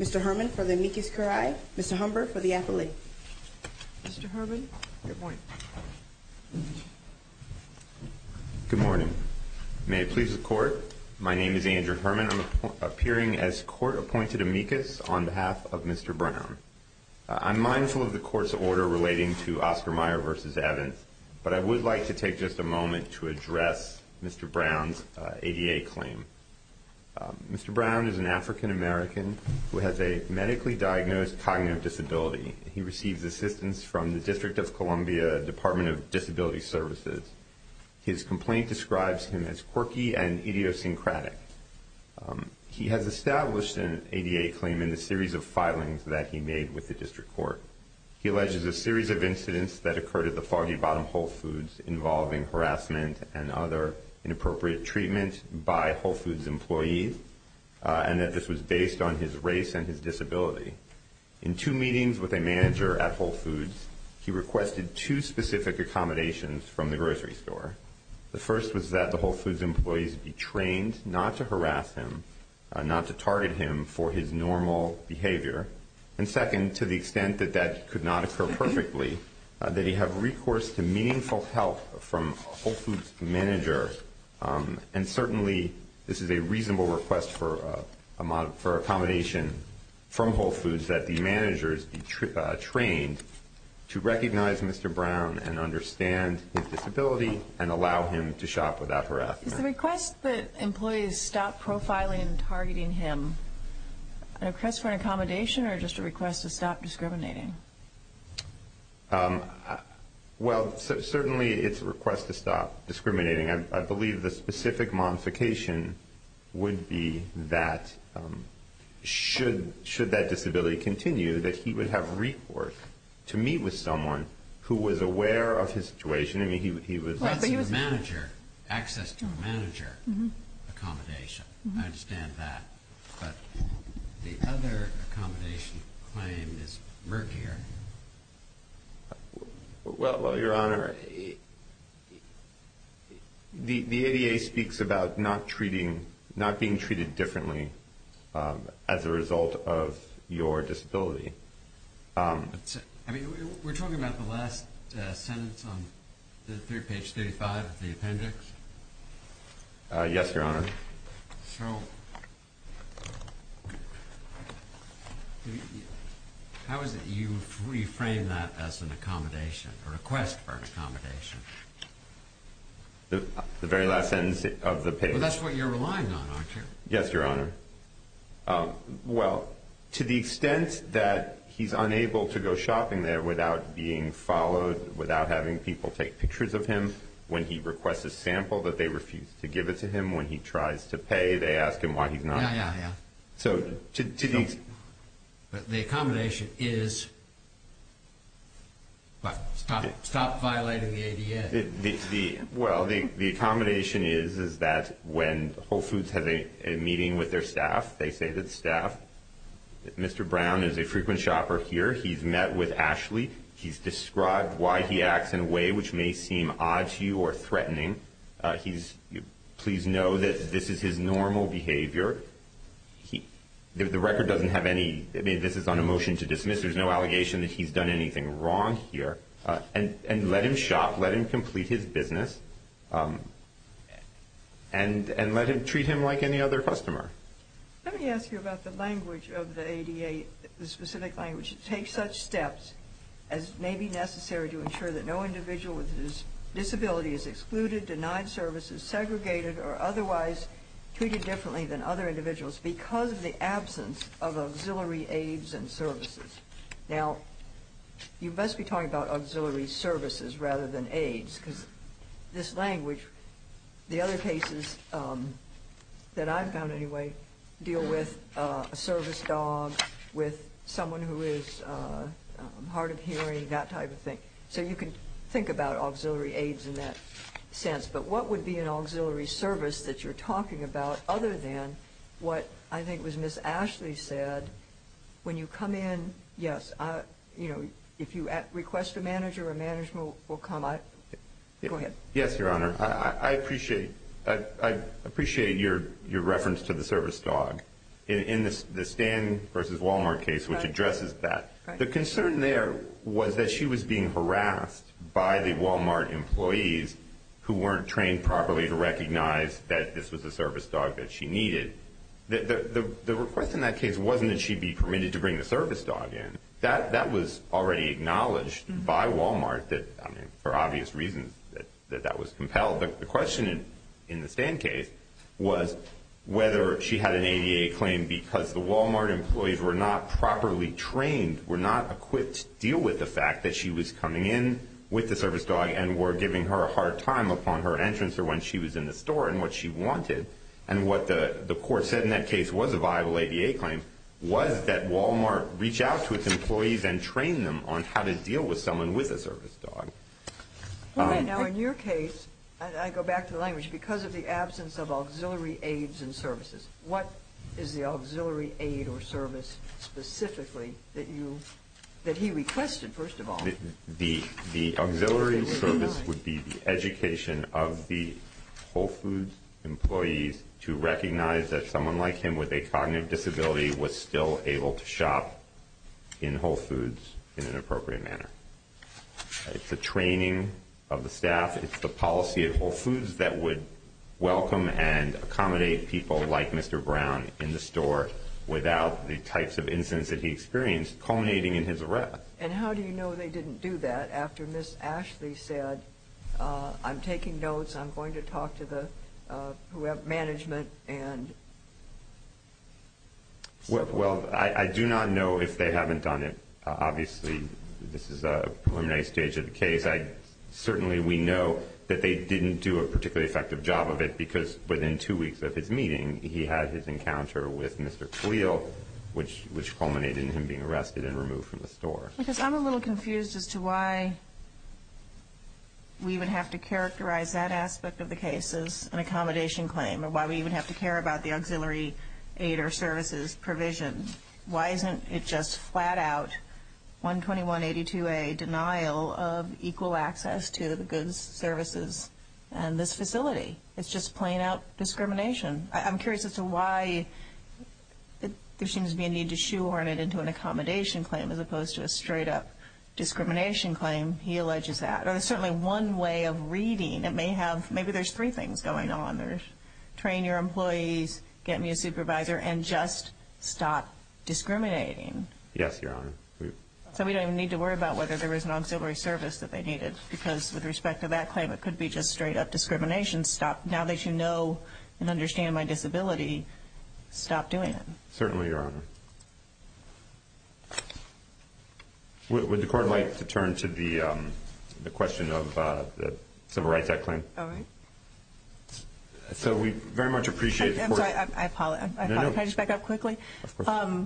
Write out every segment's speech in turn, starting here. Mr. Herman for the amicus curiae, Mr. Humber for the appellate. Good morning. May it please the court, my name is Andrew Herman. I'm appearing as court-appointed amicus on behalf of Mr. Brown. I'm mindful of the court's order relating to application for the amicus curiae. Mr. Brown is an African-American who has a medically diagnosed cognitive disability. He receives assistance from the District of Columbia Department of Disability Services. His complaint describes him as quirky and idiosyncratic. He has established an ADA claim in the series of filings that he made with the district court. He alleges a series of incidents that occurred at the Foggy Bottom Whole Foods involving harassment and other inappropriate treatment by Whole Foods employees, and that this was based on his race and his disability. In two meetings with a manager at Whole Foods, he requested two specific accommodations from the grocery store. The first was that the Whole Foods employees be trained not to harass him, not to target him for his normal behavior. And second, to the extent that that could not occur perfectly, that he have recourse to meaningful help from a Whole Foods manager. And certainly this is a reasonable request for accommodation from Whole Foods, that the managers be trained to recognize Mr. Brown and understand his disability and allow him to shop without harassment. Is the request that employees stop profiling and targeting him a request for an accommodation or just a request to stop discriminating? Well, certainly it's a request to stop discriminating. I believe the specific modification would be that should that disability continue, that he would have recourse to meet with someone who was aware of his situation. Access to a manager accommodation, I understand that. But the other accommodation claim is murkier. Well, Your Honor, the ADA speaks about not being treated differently as a result of your disability. We're talking about the last sentence on page 35 of the appendix? Yes, Your Honor. So how is it you reframe that as an accommodation, a request for accommodation? The very last sentence of the page. That's what you're relying on, aren't you? Yes, Your Honor. Well, to the extent that he's unable to go shopping there without being followed, without having people take pictures of him, when he requests a sample that they refuse to give it to him, when he tries to pay, they ask him why he's not. Yeah, yeah, yeah. So to these... But the accommodation is, what, stop violating the ADA? Well, the accommodation is that when Whole Foods has a meeting with their staff, they say to the staff, Mr. Brown is a frequent shopper here. He's met with Ashley. He's described why he acts in a way which may seem odd to you or threatening. Please know that this is his normal behavior. The record doesn't have any... I mean, this is on a motion to dismiss. There's no allegation that he's done anything wrong here. And let him shop, let him complete his business, and let him treat him like any other customer. Let me ask you about the language of the ADA, the specific language. It takes such steps as may be necessary to ensure that no individual with a disability is excluded, denied services, segregated, or otherwise treated differently than other individuals Now, you must be talking about auxiliary services rather than aids, because this language, the other cases that I've found anyway, deal with a service dog, with someone who is hard of hearing, that type of thing. So you can think about auxiliary aids in that sense. But what would be an auxiliary service that you're talking about, other than what I think was Ms. Ashley said, when you come in, yes, if you request a manager, a manager will come. Go ahead. Yes, Your Honor. I appreciate your reference to the service dog. In the Stan versus Walmart case, which addresses that, the concern there was that she was being harassed by the Walmart employees who weren't trained properly to recognize that this was a service dog that she needed. The request in that case wasn't that she be permitted to bring the service dog in. That was already acknowledged by Walmart for obvious reasons that that was compelled. The question in the Stan case was whether she had an ADA claim because the Walmart employees were not properly trained, were not equipped to deal with the fact that she was coming in with the service dog and were giving her a hard time upon her entrance or when she was in the store and what she wanted, and what the court said in that case was a viable ADA claim, was that Walmart reach out to its employees and train them on how to deal with someone with a service dog. Now, in your case, and I go back to the language, because of the absence of auxiliary aids and services, what is the auxiliary aid or service specifically that he requested, first of all? The auxiliary service would be the education of the Whole Foods employees to recognize that someone like him with a cognitive disability was still able to shop in Whole Foods in an appropriate manner. It's a training of the staff. It's the policy at Whole Foods that would welcome and accommodate people like Mr. Brown in the store without the types of incidents that he experienced culminating in his arrest. And how do you know they didn't do that after Ms. Ashley said, I'm taking notes, I'm going to talk to the management and... Well, I do not know if they haven't done it. Obviously, this is a preliminary stage of the case. Certainly, we know that they didn't do a particularly effective job of it because within two weeks of his meeting, he had his encounter with Mr. Cleal, which culminated in him being arrested and removed from the store. Because I'm a little confused as to why we would have to characterize that aspect of the case as an accommodation claim or why we would have to care about the auxiliary aid or services provision. Why isn't it just flat-out 12182A, denial of equal access to the goods, services, and this facility? It's just plain-out discrimination. I'm curious as to why there seems to be a need to shoehorn it into an accommodation claim as opposed to a straight-up discrimination claim. He alleges that. There's certainly one way of reading it. Maybe there's three things going on. There's train your employees, get me a supervisor, and just stop discriminating. Yes, Your Honor. So we don't even need to worry about whether there is an auxiliary service that they needed because with respect to that claim, it could be just straight-up discrimination. Now that you know and understand my disability, stop doing it. Certainly, Your Honor. Would the Court like to turn to the question of the civil rights act claim? All right. So we very much appreciate the Court's... I'm sorry. I apologize. No, no. Can I just back up quickly? Of course.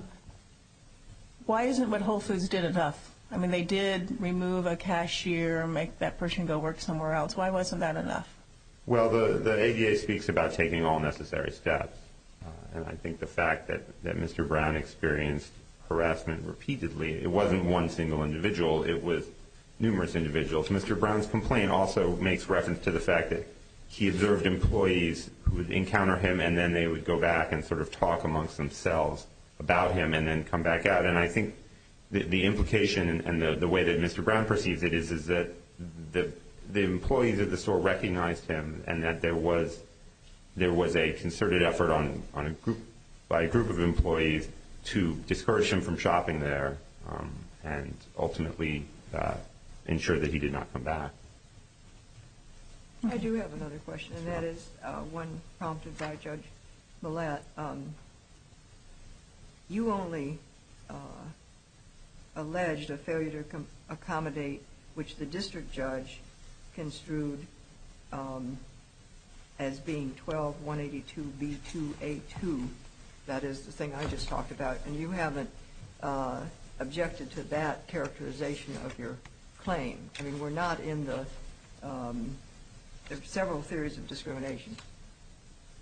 Why isn't what Whole Foods did enough? I mean, they did remove a cashier and make that person go work somewhere else. Why wasn't that enough? Well, the ADA speaks about taking all necessary steps. And I think the fact that Mr. Brown experienced harassment repeatedly, it wasn't one single individual, it was numerous individuals. Mr. Brown's complaint also makes reference to the fact that he observed employees who would encounter him and then they would go back and sort of talk amongst themselves about him and then come back out. And I think the implication and the way that Mr. Brown perceives it is that the employees at the store recognized him and that there was a concerted effort by a group of employees to discourage him from shopping there and ultimately ensure that he did not come back. I do have another question, and that is one prompted by Judge Millett. You only alleged a failure to accommodate, which the district judge construed as being 12-182-B2-A2. That is the thing I just talked about. And you haven't objected to that characterization of your claim. I mean, we're not in the several theories of discrimination.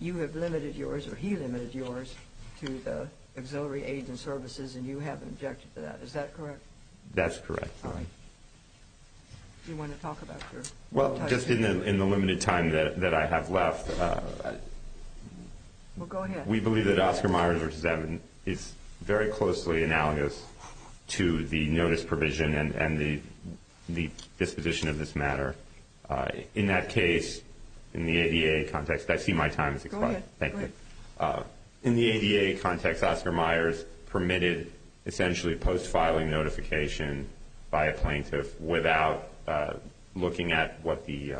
You have limited yours, or he limited yours, to the auxiliary aids and services, and you haven't objected to that. Is that correct? That's correct. Do you want to talk about your... Well, just in the limited time that I have left... Well, go ahead. We believe that Oscar Myers v. Evans is very closely analogous to the notice provision and the disposition of this matter. In that case, in the ADA context, I see my time has expired. Go ahead. Thank you. In the ADA context, Oscar Myers permitted essentially post-filing notification by a plaintiff without looking at what the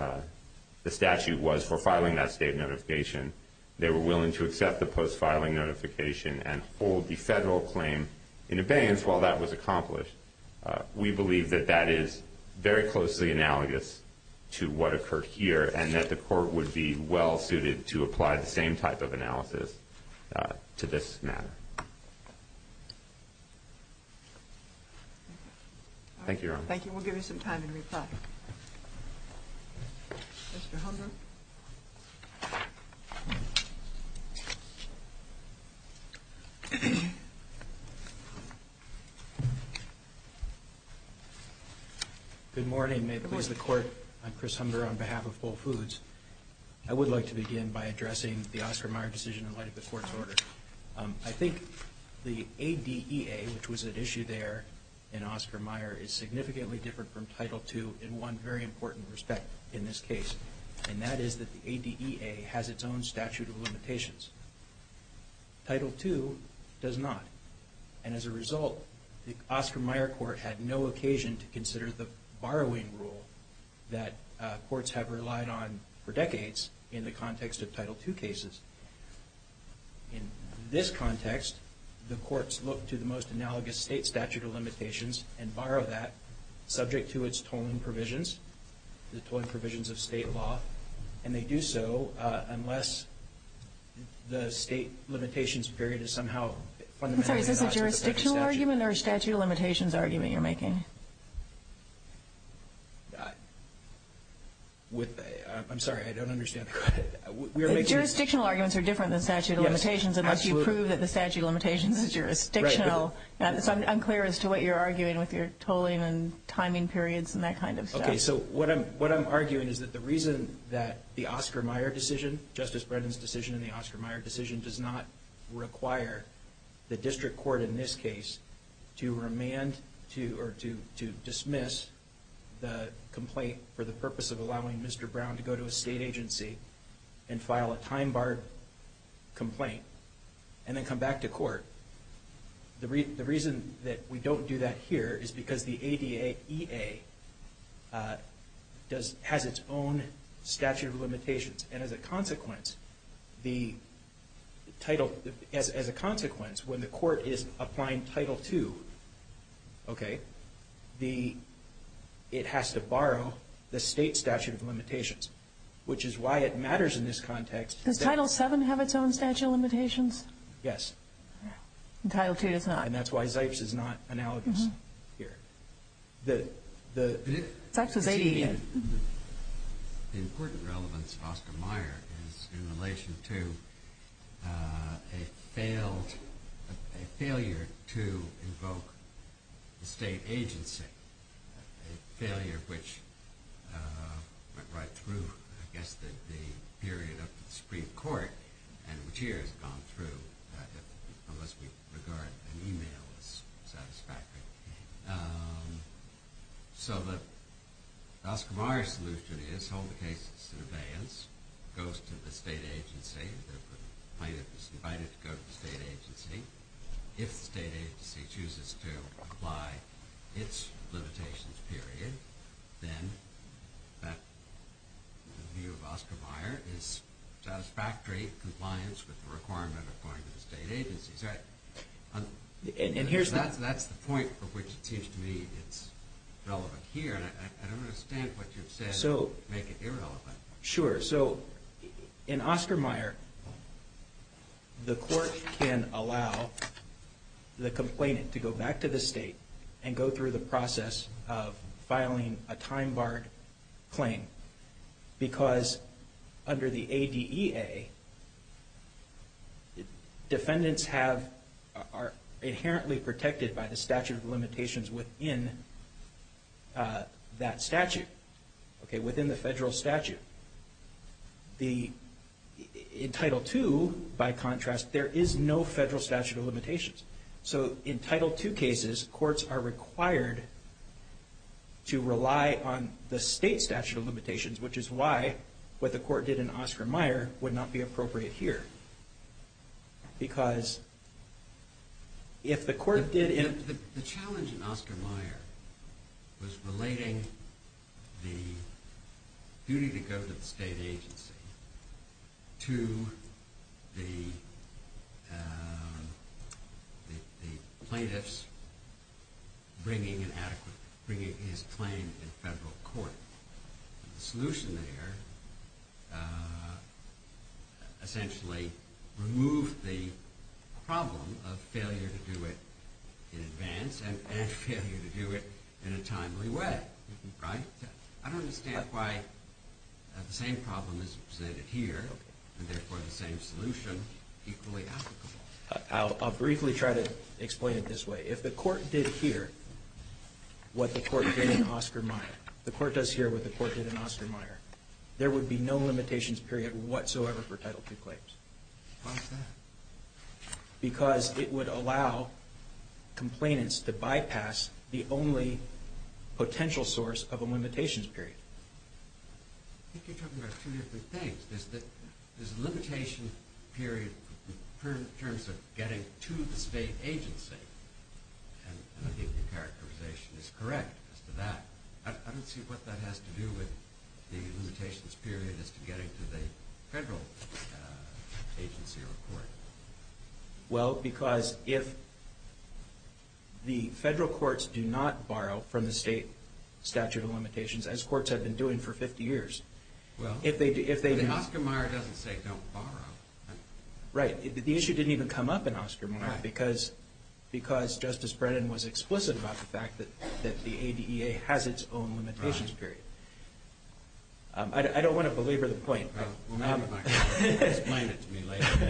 statute was for filing that state notification. They were willing to accept the post-filing notification We believe that that is very closely analogous to what occurred here and that the court would be well-suited to apply the same type of analysis to this matter. Thank you. Thank you, Your Honor. Thank you. We'll give you some time to reply. Mr. Humber. Good morning. May it please the Court, I'm Chris Humber on behalf of Whole Foods. I would like to begin by addressing the Oscar Myers decision in light of the Court's order. I think the ADEA, which was at issue there in Oscar Myers, is significantly different from Title II in one very important respect in this case. And that is that the ADEA has its own statute of limitations. Title II does not. And as a result, the Oscar Myers Court had no occasion to consider the borrowing rule that courts have relied on for decades in the context of Title II cases. In this context, the courts look to the most analogous state statute of limitations and borrow that subject to its tolling provisions, the tolling provisions of state law. And they do so unless the state limitations period is somehow fundamentally not subject to that statute. I'm sorry, is this a jurisdictional argument or a statute of limitations argument you're making? I'm sorry, I don't understand. Jurisdictional arguments are different than statute of limitations unless you prove that the statute of limitations is jurisdictional. It's unclear as to what you're arguing with your tolling and timing periods and that kind of stuff. Okay, so what I'm arguing is that the reason that the Oscar Myers decision, Justice Brennan's decision and the Oscar Myers decision, does not require the district court in this case to remand or to dismiss the complaint for the purpose of allowing Mr. Brown to go to a state agency and file a time-barred complaint and then come back to court. The reason that we don't do that here is because the ADAEA has its own statute of limitations. And as a consequence, when the court is applying Title II, it has to borrow the state statute of limitations, which is why it matters in this context. Does Title VII have its own statute of limitations? Yes. And Title II does not. And that's why Zipes is not analogous here. Zipes is ADAEA. The important relevance of Oscar Myers is in relation to a failure to invoke the state agency, a failure which went right through, I guess, the period of the Supreme Court, and which here has gone through, unless we regard an email as satisfactory. So the Oscar Myers solution is hold the case in surveillance, goes to the state agency, the plaintiff is invited to go to the state agency. If the state agency chooses to apply its limitations period, then the view of Oscar Myers is satisfactory compliance with the requirement of going to the state agency. So that's the point for which it seems to me it's relevant here, and I don't understand what you've said to make it irrelevant. Sure. So in Oscar Myers, the court can allow the complainant to go back to the state and go through the process of filing a time-barred claim because under the ADEA, defendants are inherently protected by the statute of limitations within that statute, within the federal statute. In Title II, by contrast, there is no federal statute of limitations. So in Title II cases, courts are required to rely on the state statute of limitations, which is why what the court did in Oscar Myers would not be appropriate here. Because if the court did... The challenge in Oscar Myers was relating the duty to go to the state agency to the plaintiffs bringing his claim in federal court. The solution there essentially removed the problem of failure to do it in advance and failure to do it in a timely way, right? I don't understand why the same problem is presented here and therefore the same solution equally applicable. I'll briefly try to explain it this way. If the court did here what the court did in Oscar Myers, the court does here what the court did in Oscar Myers, there would be no limitations period whatsoever for Title II claims. Why is that? Because it would allow complainants to bypass the only potential source of a limitations period. I think you're talking about two different things. There's a limitation period in terms of getting to the state agency, and I think your characterization is correct as to that. I don't see what that has to do with the limitations period as to getting to the federal agency or court. Well, because if the federal courts do not borrow from the state statute of limitations, as courts have been doing for 50 years, Oscar Myers doesn't say don't borrow. Right. The issue didn't even come up in Oscar Myers because Justice Brennan was explicit about the fact that the ADEA has its own limitations period. I don't want to belabor the point. Explain it to me later.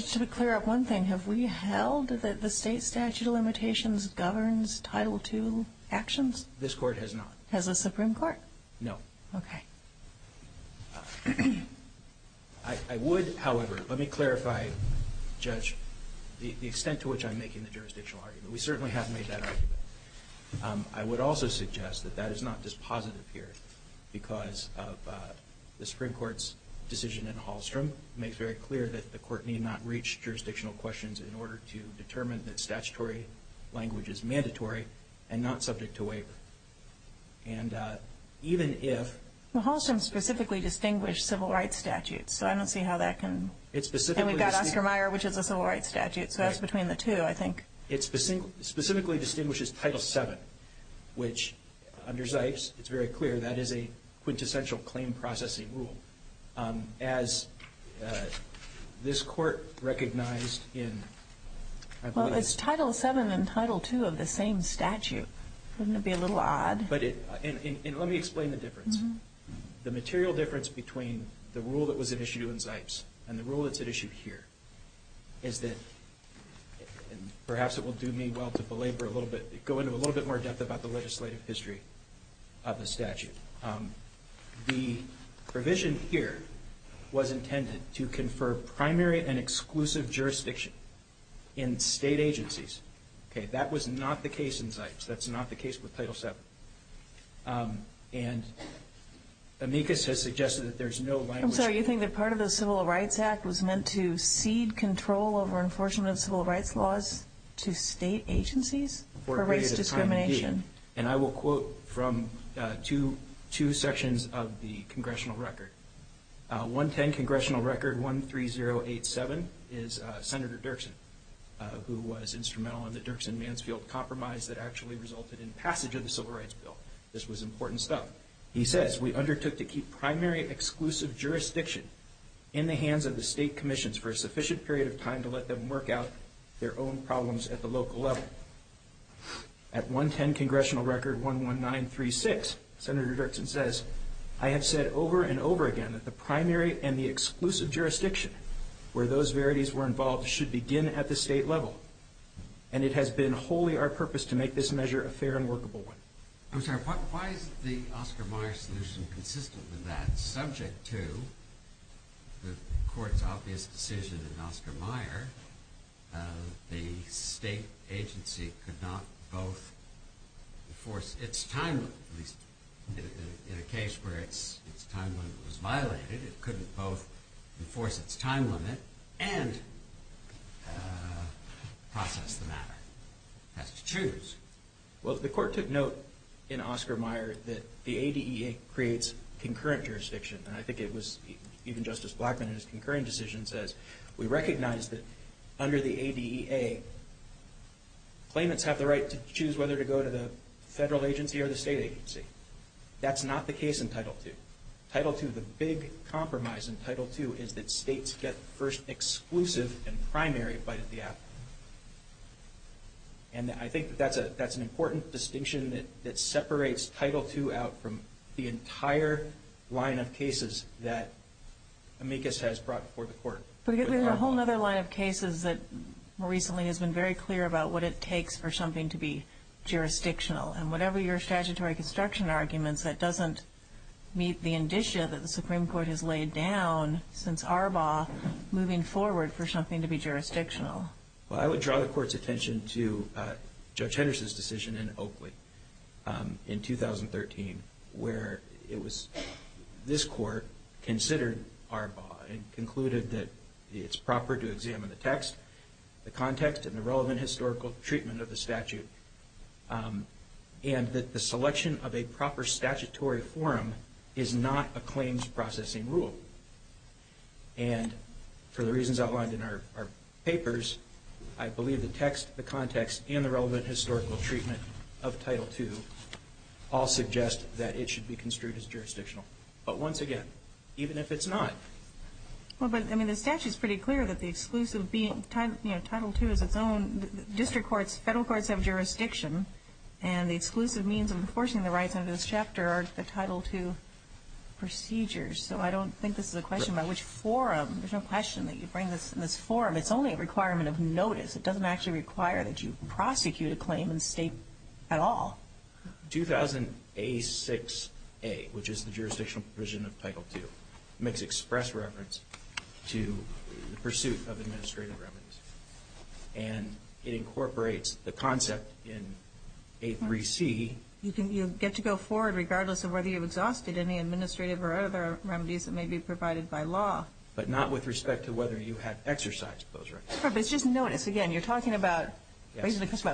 To clear up one thing, have we held that the state statute of limitations governs Title II actions? This court has not. Has the Supreme Court? No. Okay. I would, however, let me clarify, Judge, the extent to which I'm making the jurisdictional argument. We certainly have made that argument. I would also suggest that that is not dispositive here because of the Supreme Court's decision in Hallstrom makes very clear that the court need not reach jurisdictional questions in order to determine that statutory language is mandatory and not subject to waiver. And even if- Well, Hallstrom specifically distinguished civil rights statutes, so I don't see how that can- And we've got Oscar Myers, which is a civil rights statute, so that's between the two, I think. It specifically distinguishes Title VII, which under Zipes, it's very clear that is a quintessential claim processing rule. As this court recognized in- Well, it's Title VII and Title II of the same statute. Wouldn't it be a little odd? And let me explain the difference. The material difference between the rule that was issued in Zipes and the rule that's issued here is that, and perhaps it will do me well to belabor a little bit, go into a little bit more depth about the legislative history of the statute. The provision here was intended to confer primary and exclusive jurisdiction in state agencies. That was not the case in Zipes. That's not the case with Title VII. And amicus has suggested that there's no language- of civil rights laws to state agencies for race discrimination. And I will quote from two sections of the congressional record. 110 Congressional Record 13087 is Senator Dirksen, who was instrumental in the Dirksen-Mansfield compromise that actually resulted in passage of the Civil Rights Bill. This was important stuff. He says, At 110 Congressional Record 11936, Senator Dirksen says, I have said over and over again that the primary and the exclusive jurisdiction where those verities were involved should begin at the state level. And it has been wholly our purpose to make this measure a fair and workable one. I'm sorry. Why is the Oscar Mayer solution consistent with that? Subject to the Court's obvious decision in Oscar Mayer, the state agency could not both enforce its time limit, at least in a case where its time limit was violated, it couldn't both enforce its time limit and process the matter. It has to choose. Well, the Court took note in Oscar Mayer that the ADEA creates concurrent jurisdiction. And I think it was even Justice Blackmun in his concurring decision says, we recognize that under the ADEA, claimants have the right to choose whether to go to the federal agency or the state agency. That's not the case in Title II. Title II, the big compromise in Title II, is that states get first exclusive and primary bite at the apple. And I think that's an important distinction that separates Title II out from the entire line of cases that amicus has brought before the Court. But there's a whole other line of cases that more recently has been very clear about what it takes for something to be jurisdictional. And whatever your statutory construction arguments, that doesn't meet the indicia that the Supreme Court has laid down since Arbaugh moving forward for something to be jurisdictional. Well, I would draw the Court's attention to Judge Henderson's decision in Oakley in 2013, where it was this Court considered Arbaugh and concluded that it's proper to examine the text, the context, and the relevant historical treatment of the statute, and that the selection of a proper statutory forum is not a claims processing rule. And for the reasons outlined in our papers, I believe the text, the context, and the relevant historical treatment of Title II all suggest that it should be construed as jurisdictional. But once again, even if it's not. Well, but, I mean, the statute's pretty clear that the exclusive being Title II is its own. District courts, federal courts have jurisdiction, and the exclusive means of enforcing the rights under this chapter are the Title II procedures. So I don't think this is a question about which forum. There's no question that you bring this in this forum. It's only a requirement of notice. It doesn't actually require that you prosecute a claim in the State at all. 2000A6A, which is the jurisdictional provision of Title II, makes express reference to the pursuit of administrative reverence. And it incorporates the concept in A3C. You get to go forward regardless of whether you've exhausted any administrative or other remedies that may be provided by law. But not with respect to whether you have exercised those rights. But it's just notice. Again, you're talking about a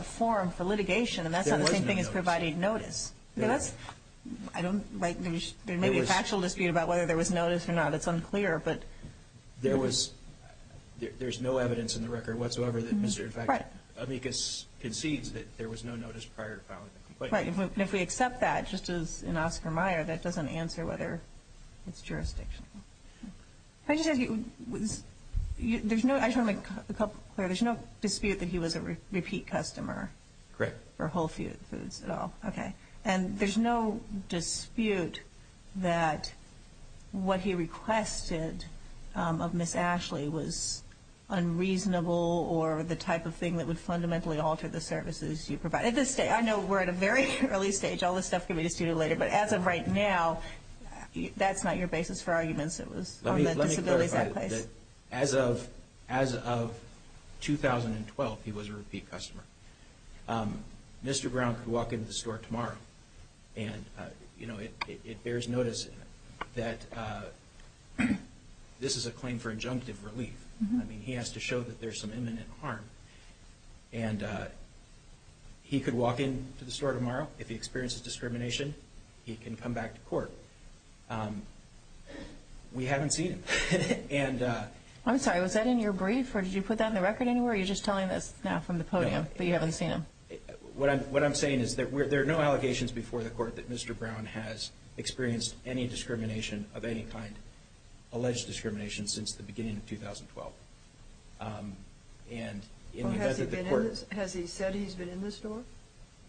forum for litigation, and that's not the same thing as providing notice. There was no notice. There may be a factual dispute about whether there was notice or not. It's unclear. There's no evidence in the record whatsoever that Mr. Amicus concedes that there was no notice prior to filing the complaint. Right. And if we accept that, just as in Oscar Meyer, that doesn't answer whether it's jurisdictional. Can I just ask you, there's no dispute that he was a repeat customer? Correct. For Whole Foods at all. Okay. And there's no dispute that what he requested of Ms. Ashley was unreasonable or the type of thing that would fundamentally alter the services you provide. I know we're at a very early stage. All this stuff can be disputed later. But as of right now, that's not your basis for arguments. It was on the disabilities act. Let me clarify. As of 2012, he was a repeat customer. Mr. Brown could walk into the store tomorrow, and it bears notice that this is a claim for injunctive relief. I mean, he has to show that there's some imminent harm. And he could walk into the store tomorrow. If he experiences discrimination, he can come back to court. We haven't seen him. I'm sorry. Was that in your brief, or did you put that in the record anywhere, or are you just telling us now from the podium that you haven't seen him? What I'm saying is there are no allegations before the court that Mr. Brown has experienced any discrimination of any kind, alleged discrimination, since the beginning of 2012. Has he said he's been in the store?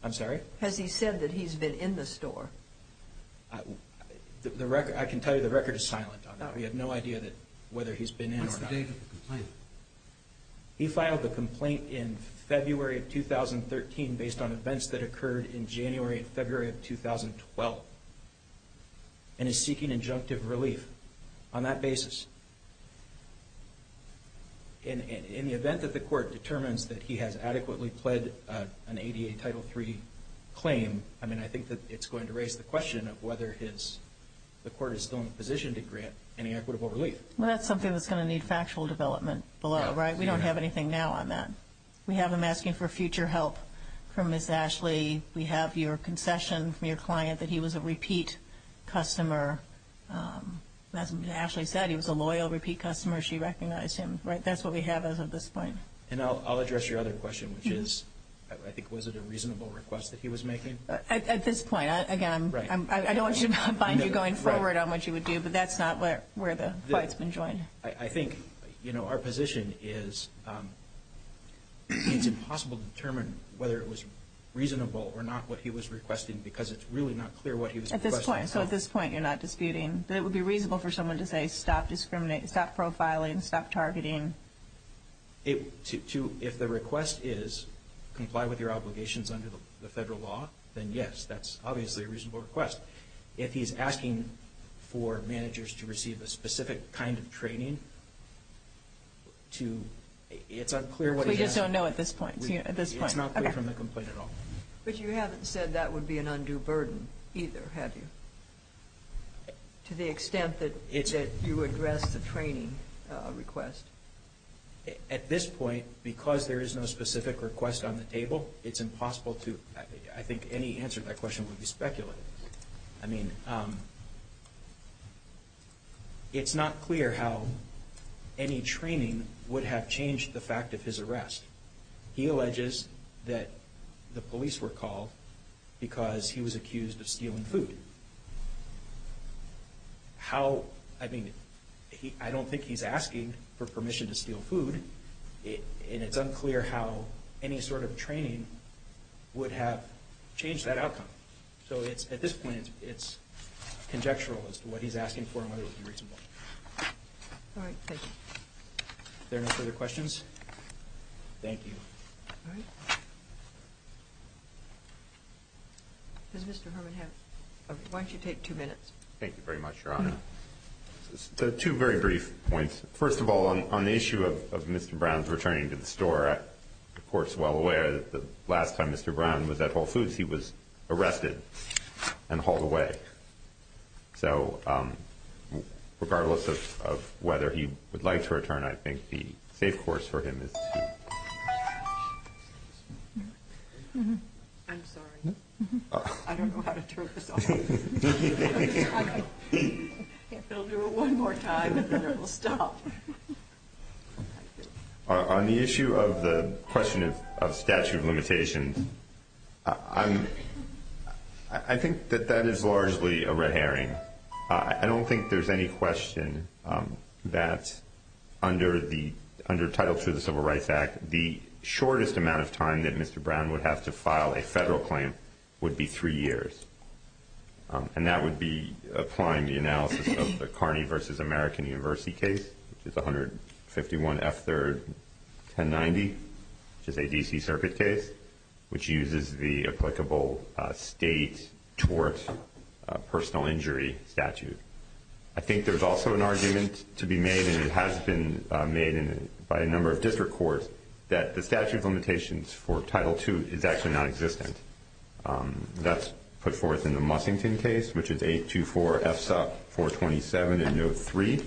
I'm sorry? Has he said that he's been in the store? I can tell you the record is silent on that. We have no idea whether he's been in or not. What's the date of the complaint? He filed the complaint in February of 2013 based on events that occurred in January and February of 2012 and is seeking injunctive relief on that basis. In the event that the court determines that he has adequately pled an ADA Title III claim, I mean, I think that it's going to raise the question of whether the court is still in a position to grant any equitable relief. Well, that's something that's going to need factual development below, right? We don't have anything now on that. We have him asking for future help from Ms. Ashley. We have your concession from your client that he was a repeat customer. As Ashley said, he was a loyal repeat customer. She recognized him, right? That's what we have as of this point. And I'll address your other question, which is, I think, was it a reasonable request that he was making? At this point, again, I don't want to bind you going forward on what you would do, but that's not where the fight's been joined. I think, you know, our position is it's impossible to determine whether it was reasonable or not what he was requesting because it's really not clear what he was requesting. So at this point, you're not disputing that it would be reasonable for someone to say stop profiling, stop targeting? If the request is comply with your obligations under the federal law, then yes, that's obviously a reasonable request. If he's asking for managers to receive a specific kind of training, it's unclear what he's asking. So you just don't know at this point? It's not clear from the complaint at all. But you haven't said that would be an undue burden either, have you? To the extent that you addressed the training request? At this point, because there is no specific request on the table, it's impossible to – I think any answer to that question would be speculative. I mean, it's not clear how any training would have changed the fact of his arrest. He alleges that the police were called because he was accused of stealing food. How – I mean, I don't think he's asking for permission to steal food, and it's unclear how any sort of training would have changed that outcome. So at this point, it's conjectural as to what he's asking for and whether it would be reasonable. All right, thank you. Are there any further questions? Thank you. Does Mr. Herman have – why don't you take two minutes? Thank you very much, Your Honor. Two very brief points. First of all, on the issue of Mr. Brown's returning to the store, the Court's well aware that the last time Mr. Brown was at Whole Foods he was arrested and hauled away. So regardless of whether he would like to return, I think the safe course for him is to – I'm sorry. I don't know how to turn this off. It'll do it one more time and then it will stop. On the issue of the question of statute of limitations, I think that that is largely a red herring. I don't think there's any question that under Title II of the Civil Rights Act, the shortest amount of time that Mr. Brown would have to file a federal claim would be three years, and that would be applying the analysis of the Kearney v. American University case, which is 151F3-1090, which is a D.C. Circuit case, which uses the applicable state tort personal injury statute. I think there's also an argument to be made, and it has been made by a number of district courts, that the statute of limitations for Title II is actually nonexistent. That's put forth in the Mussington case, which is 824F-427 in Note 3,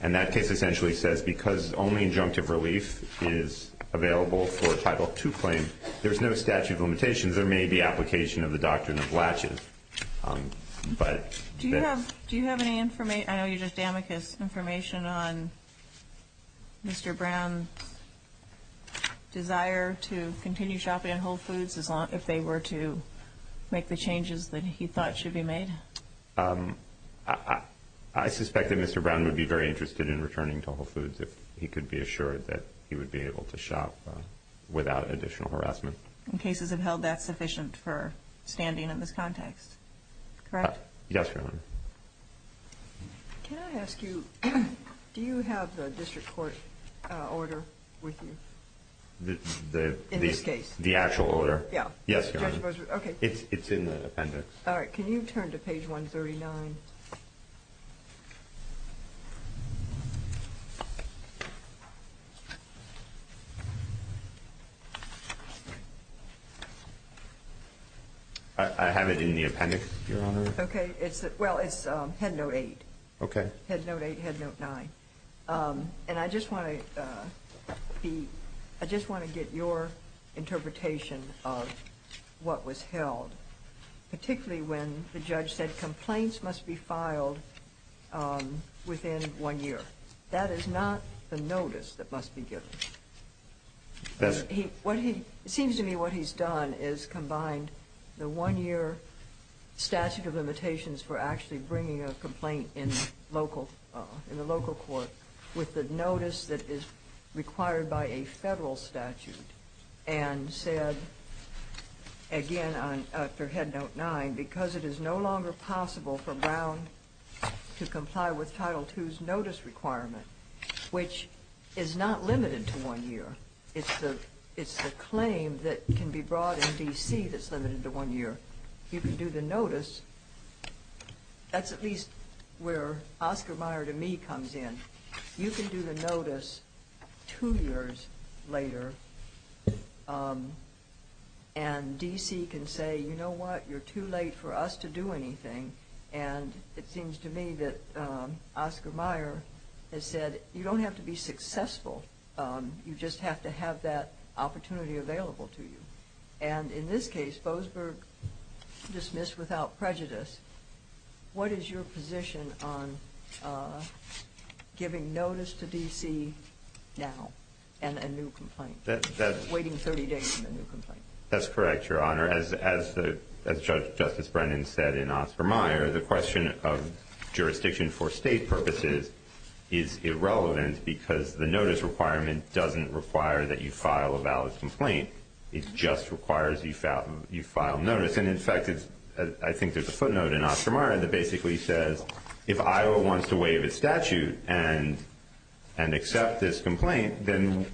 and that case essentially says because only injunctive relief is available for a Title II claim, there's no statute of limitations. There may be application of the doctrine of latches, but – Do you have any – I know you're just damning his information on Mr. Brown's desire to continue shopping at Whole Foods if they were to make the changes that he thought should be made? I suspect that Mr. Brown would be very interested in returning to Whole Foods if he could be assured that he would be able to shop without additional harassment. And cases have held that sufficient for standing in this context, correct? Yes, Your Honor. Can I ask you, do you have the district court order with you in this case? The actual order? Yeah. Yes, Your Honor. Okay. It's in the appendix. All right. Can you turn to page 139? I have it in the appendix, Your Honor. Okay. Well, it's Head Note 8. Okay. Head Note 8, Head Note 9. And I just want to get your interpretation of what was held, particularly when the judge said complaints must be filed within one year. That is not the notice that must be given. Yes. It seems to me what he's done is combined the one-year statute of limitations for actually bringing a complaint in the local court with the notice that is required by a federal statute and said, again, after Head Note 9, because it is no longer possible for Brown to comply with Title II's notice requirement, which is not limited to one year. It's the claim that can be brought in D.C. that's limited to one year. But you can do the notice. That's at least where Oscar Mayer to me comes in. You can do the notice two years later, and D.C. can say, you know what, you're too late for us to do anything. And it seems to me that Oscar Mayer has said, you don't have to be successful. You just have to have that opportunity available to you. And in this case, Bozberg dismissed without prejudice, what is your position on giving notice to D.C. now and a new complaint, waiting 30 days for a new complaint? That's correct, Your Honor. As Justice Brennan said in Oscar Mayer, the question of jurisdiction for state purposes is irrelevant because the notice requirement doesn't require that you file a valid complaint. It just requires that you file notice. And, in fact, I think there's a footnote in Oscar Mayer that basically says, if Iowa wants to waive its statute and accept this complaint, then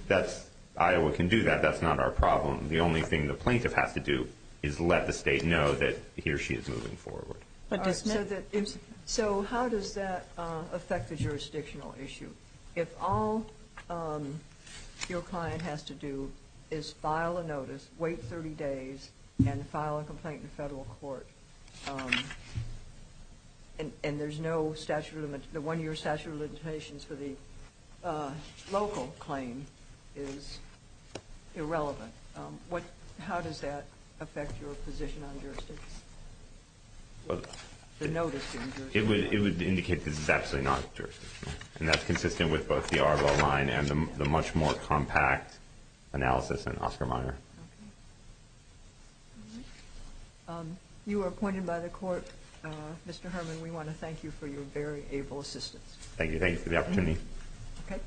Iowa can do that. That's not our problem. The only thing the plaintiff has to do is let the state know that he or she is moving forward. So how does that affect the jurisdictional issue? If all your client has to do is file a notice, wait 30 days, and file a complaint in federal court, and the one-year statute of limitations for the local claim is irrelevant, how does that affect your position on jurisdiction, the notice being jurisdictional? It would indicate this is absolutely not jurisdictional, and that's consistent with both the Arbo line and the much more compact analysis in Oscar Mayer. You are appointed by the court. Mr. Herman, we want to thank you for your very able assistance. Thank you. Thank you for the opportunity.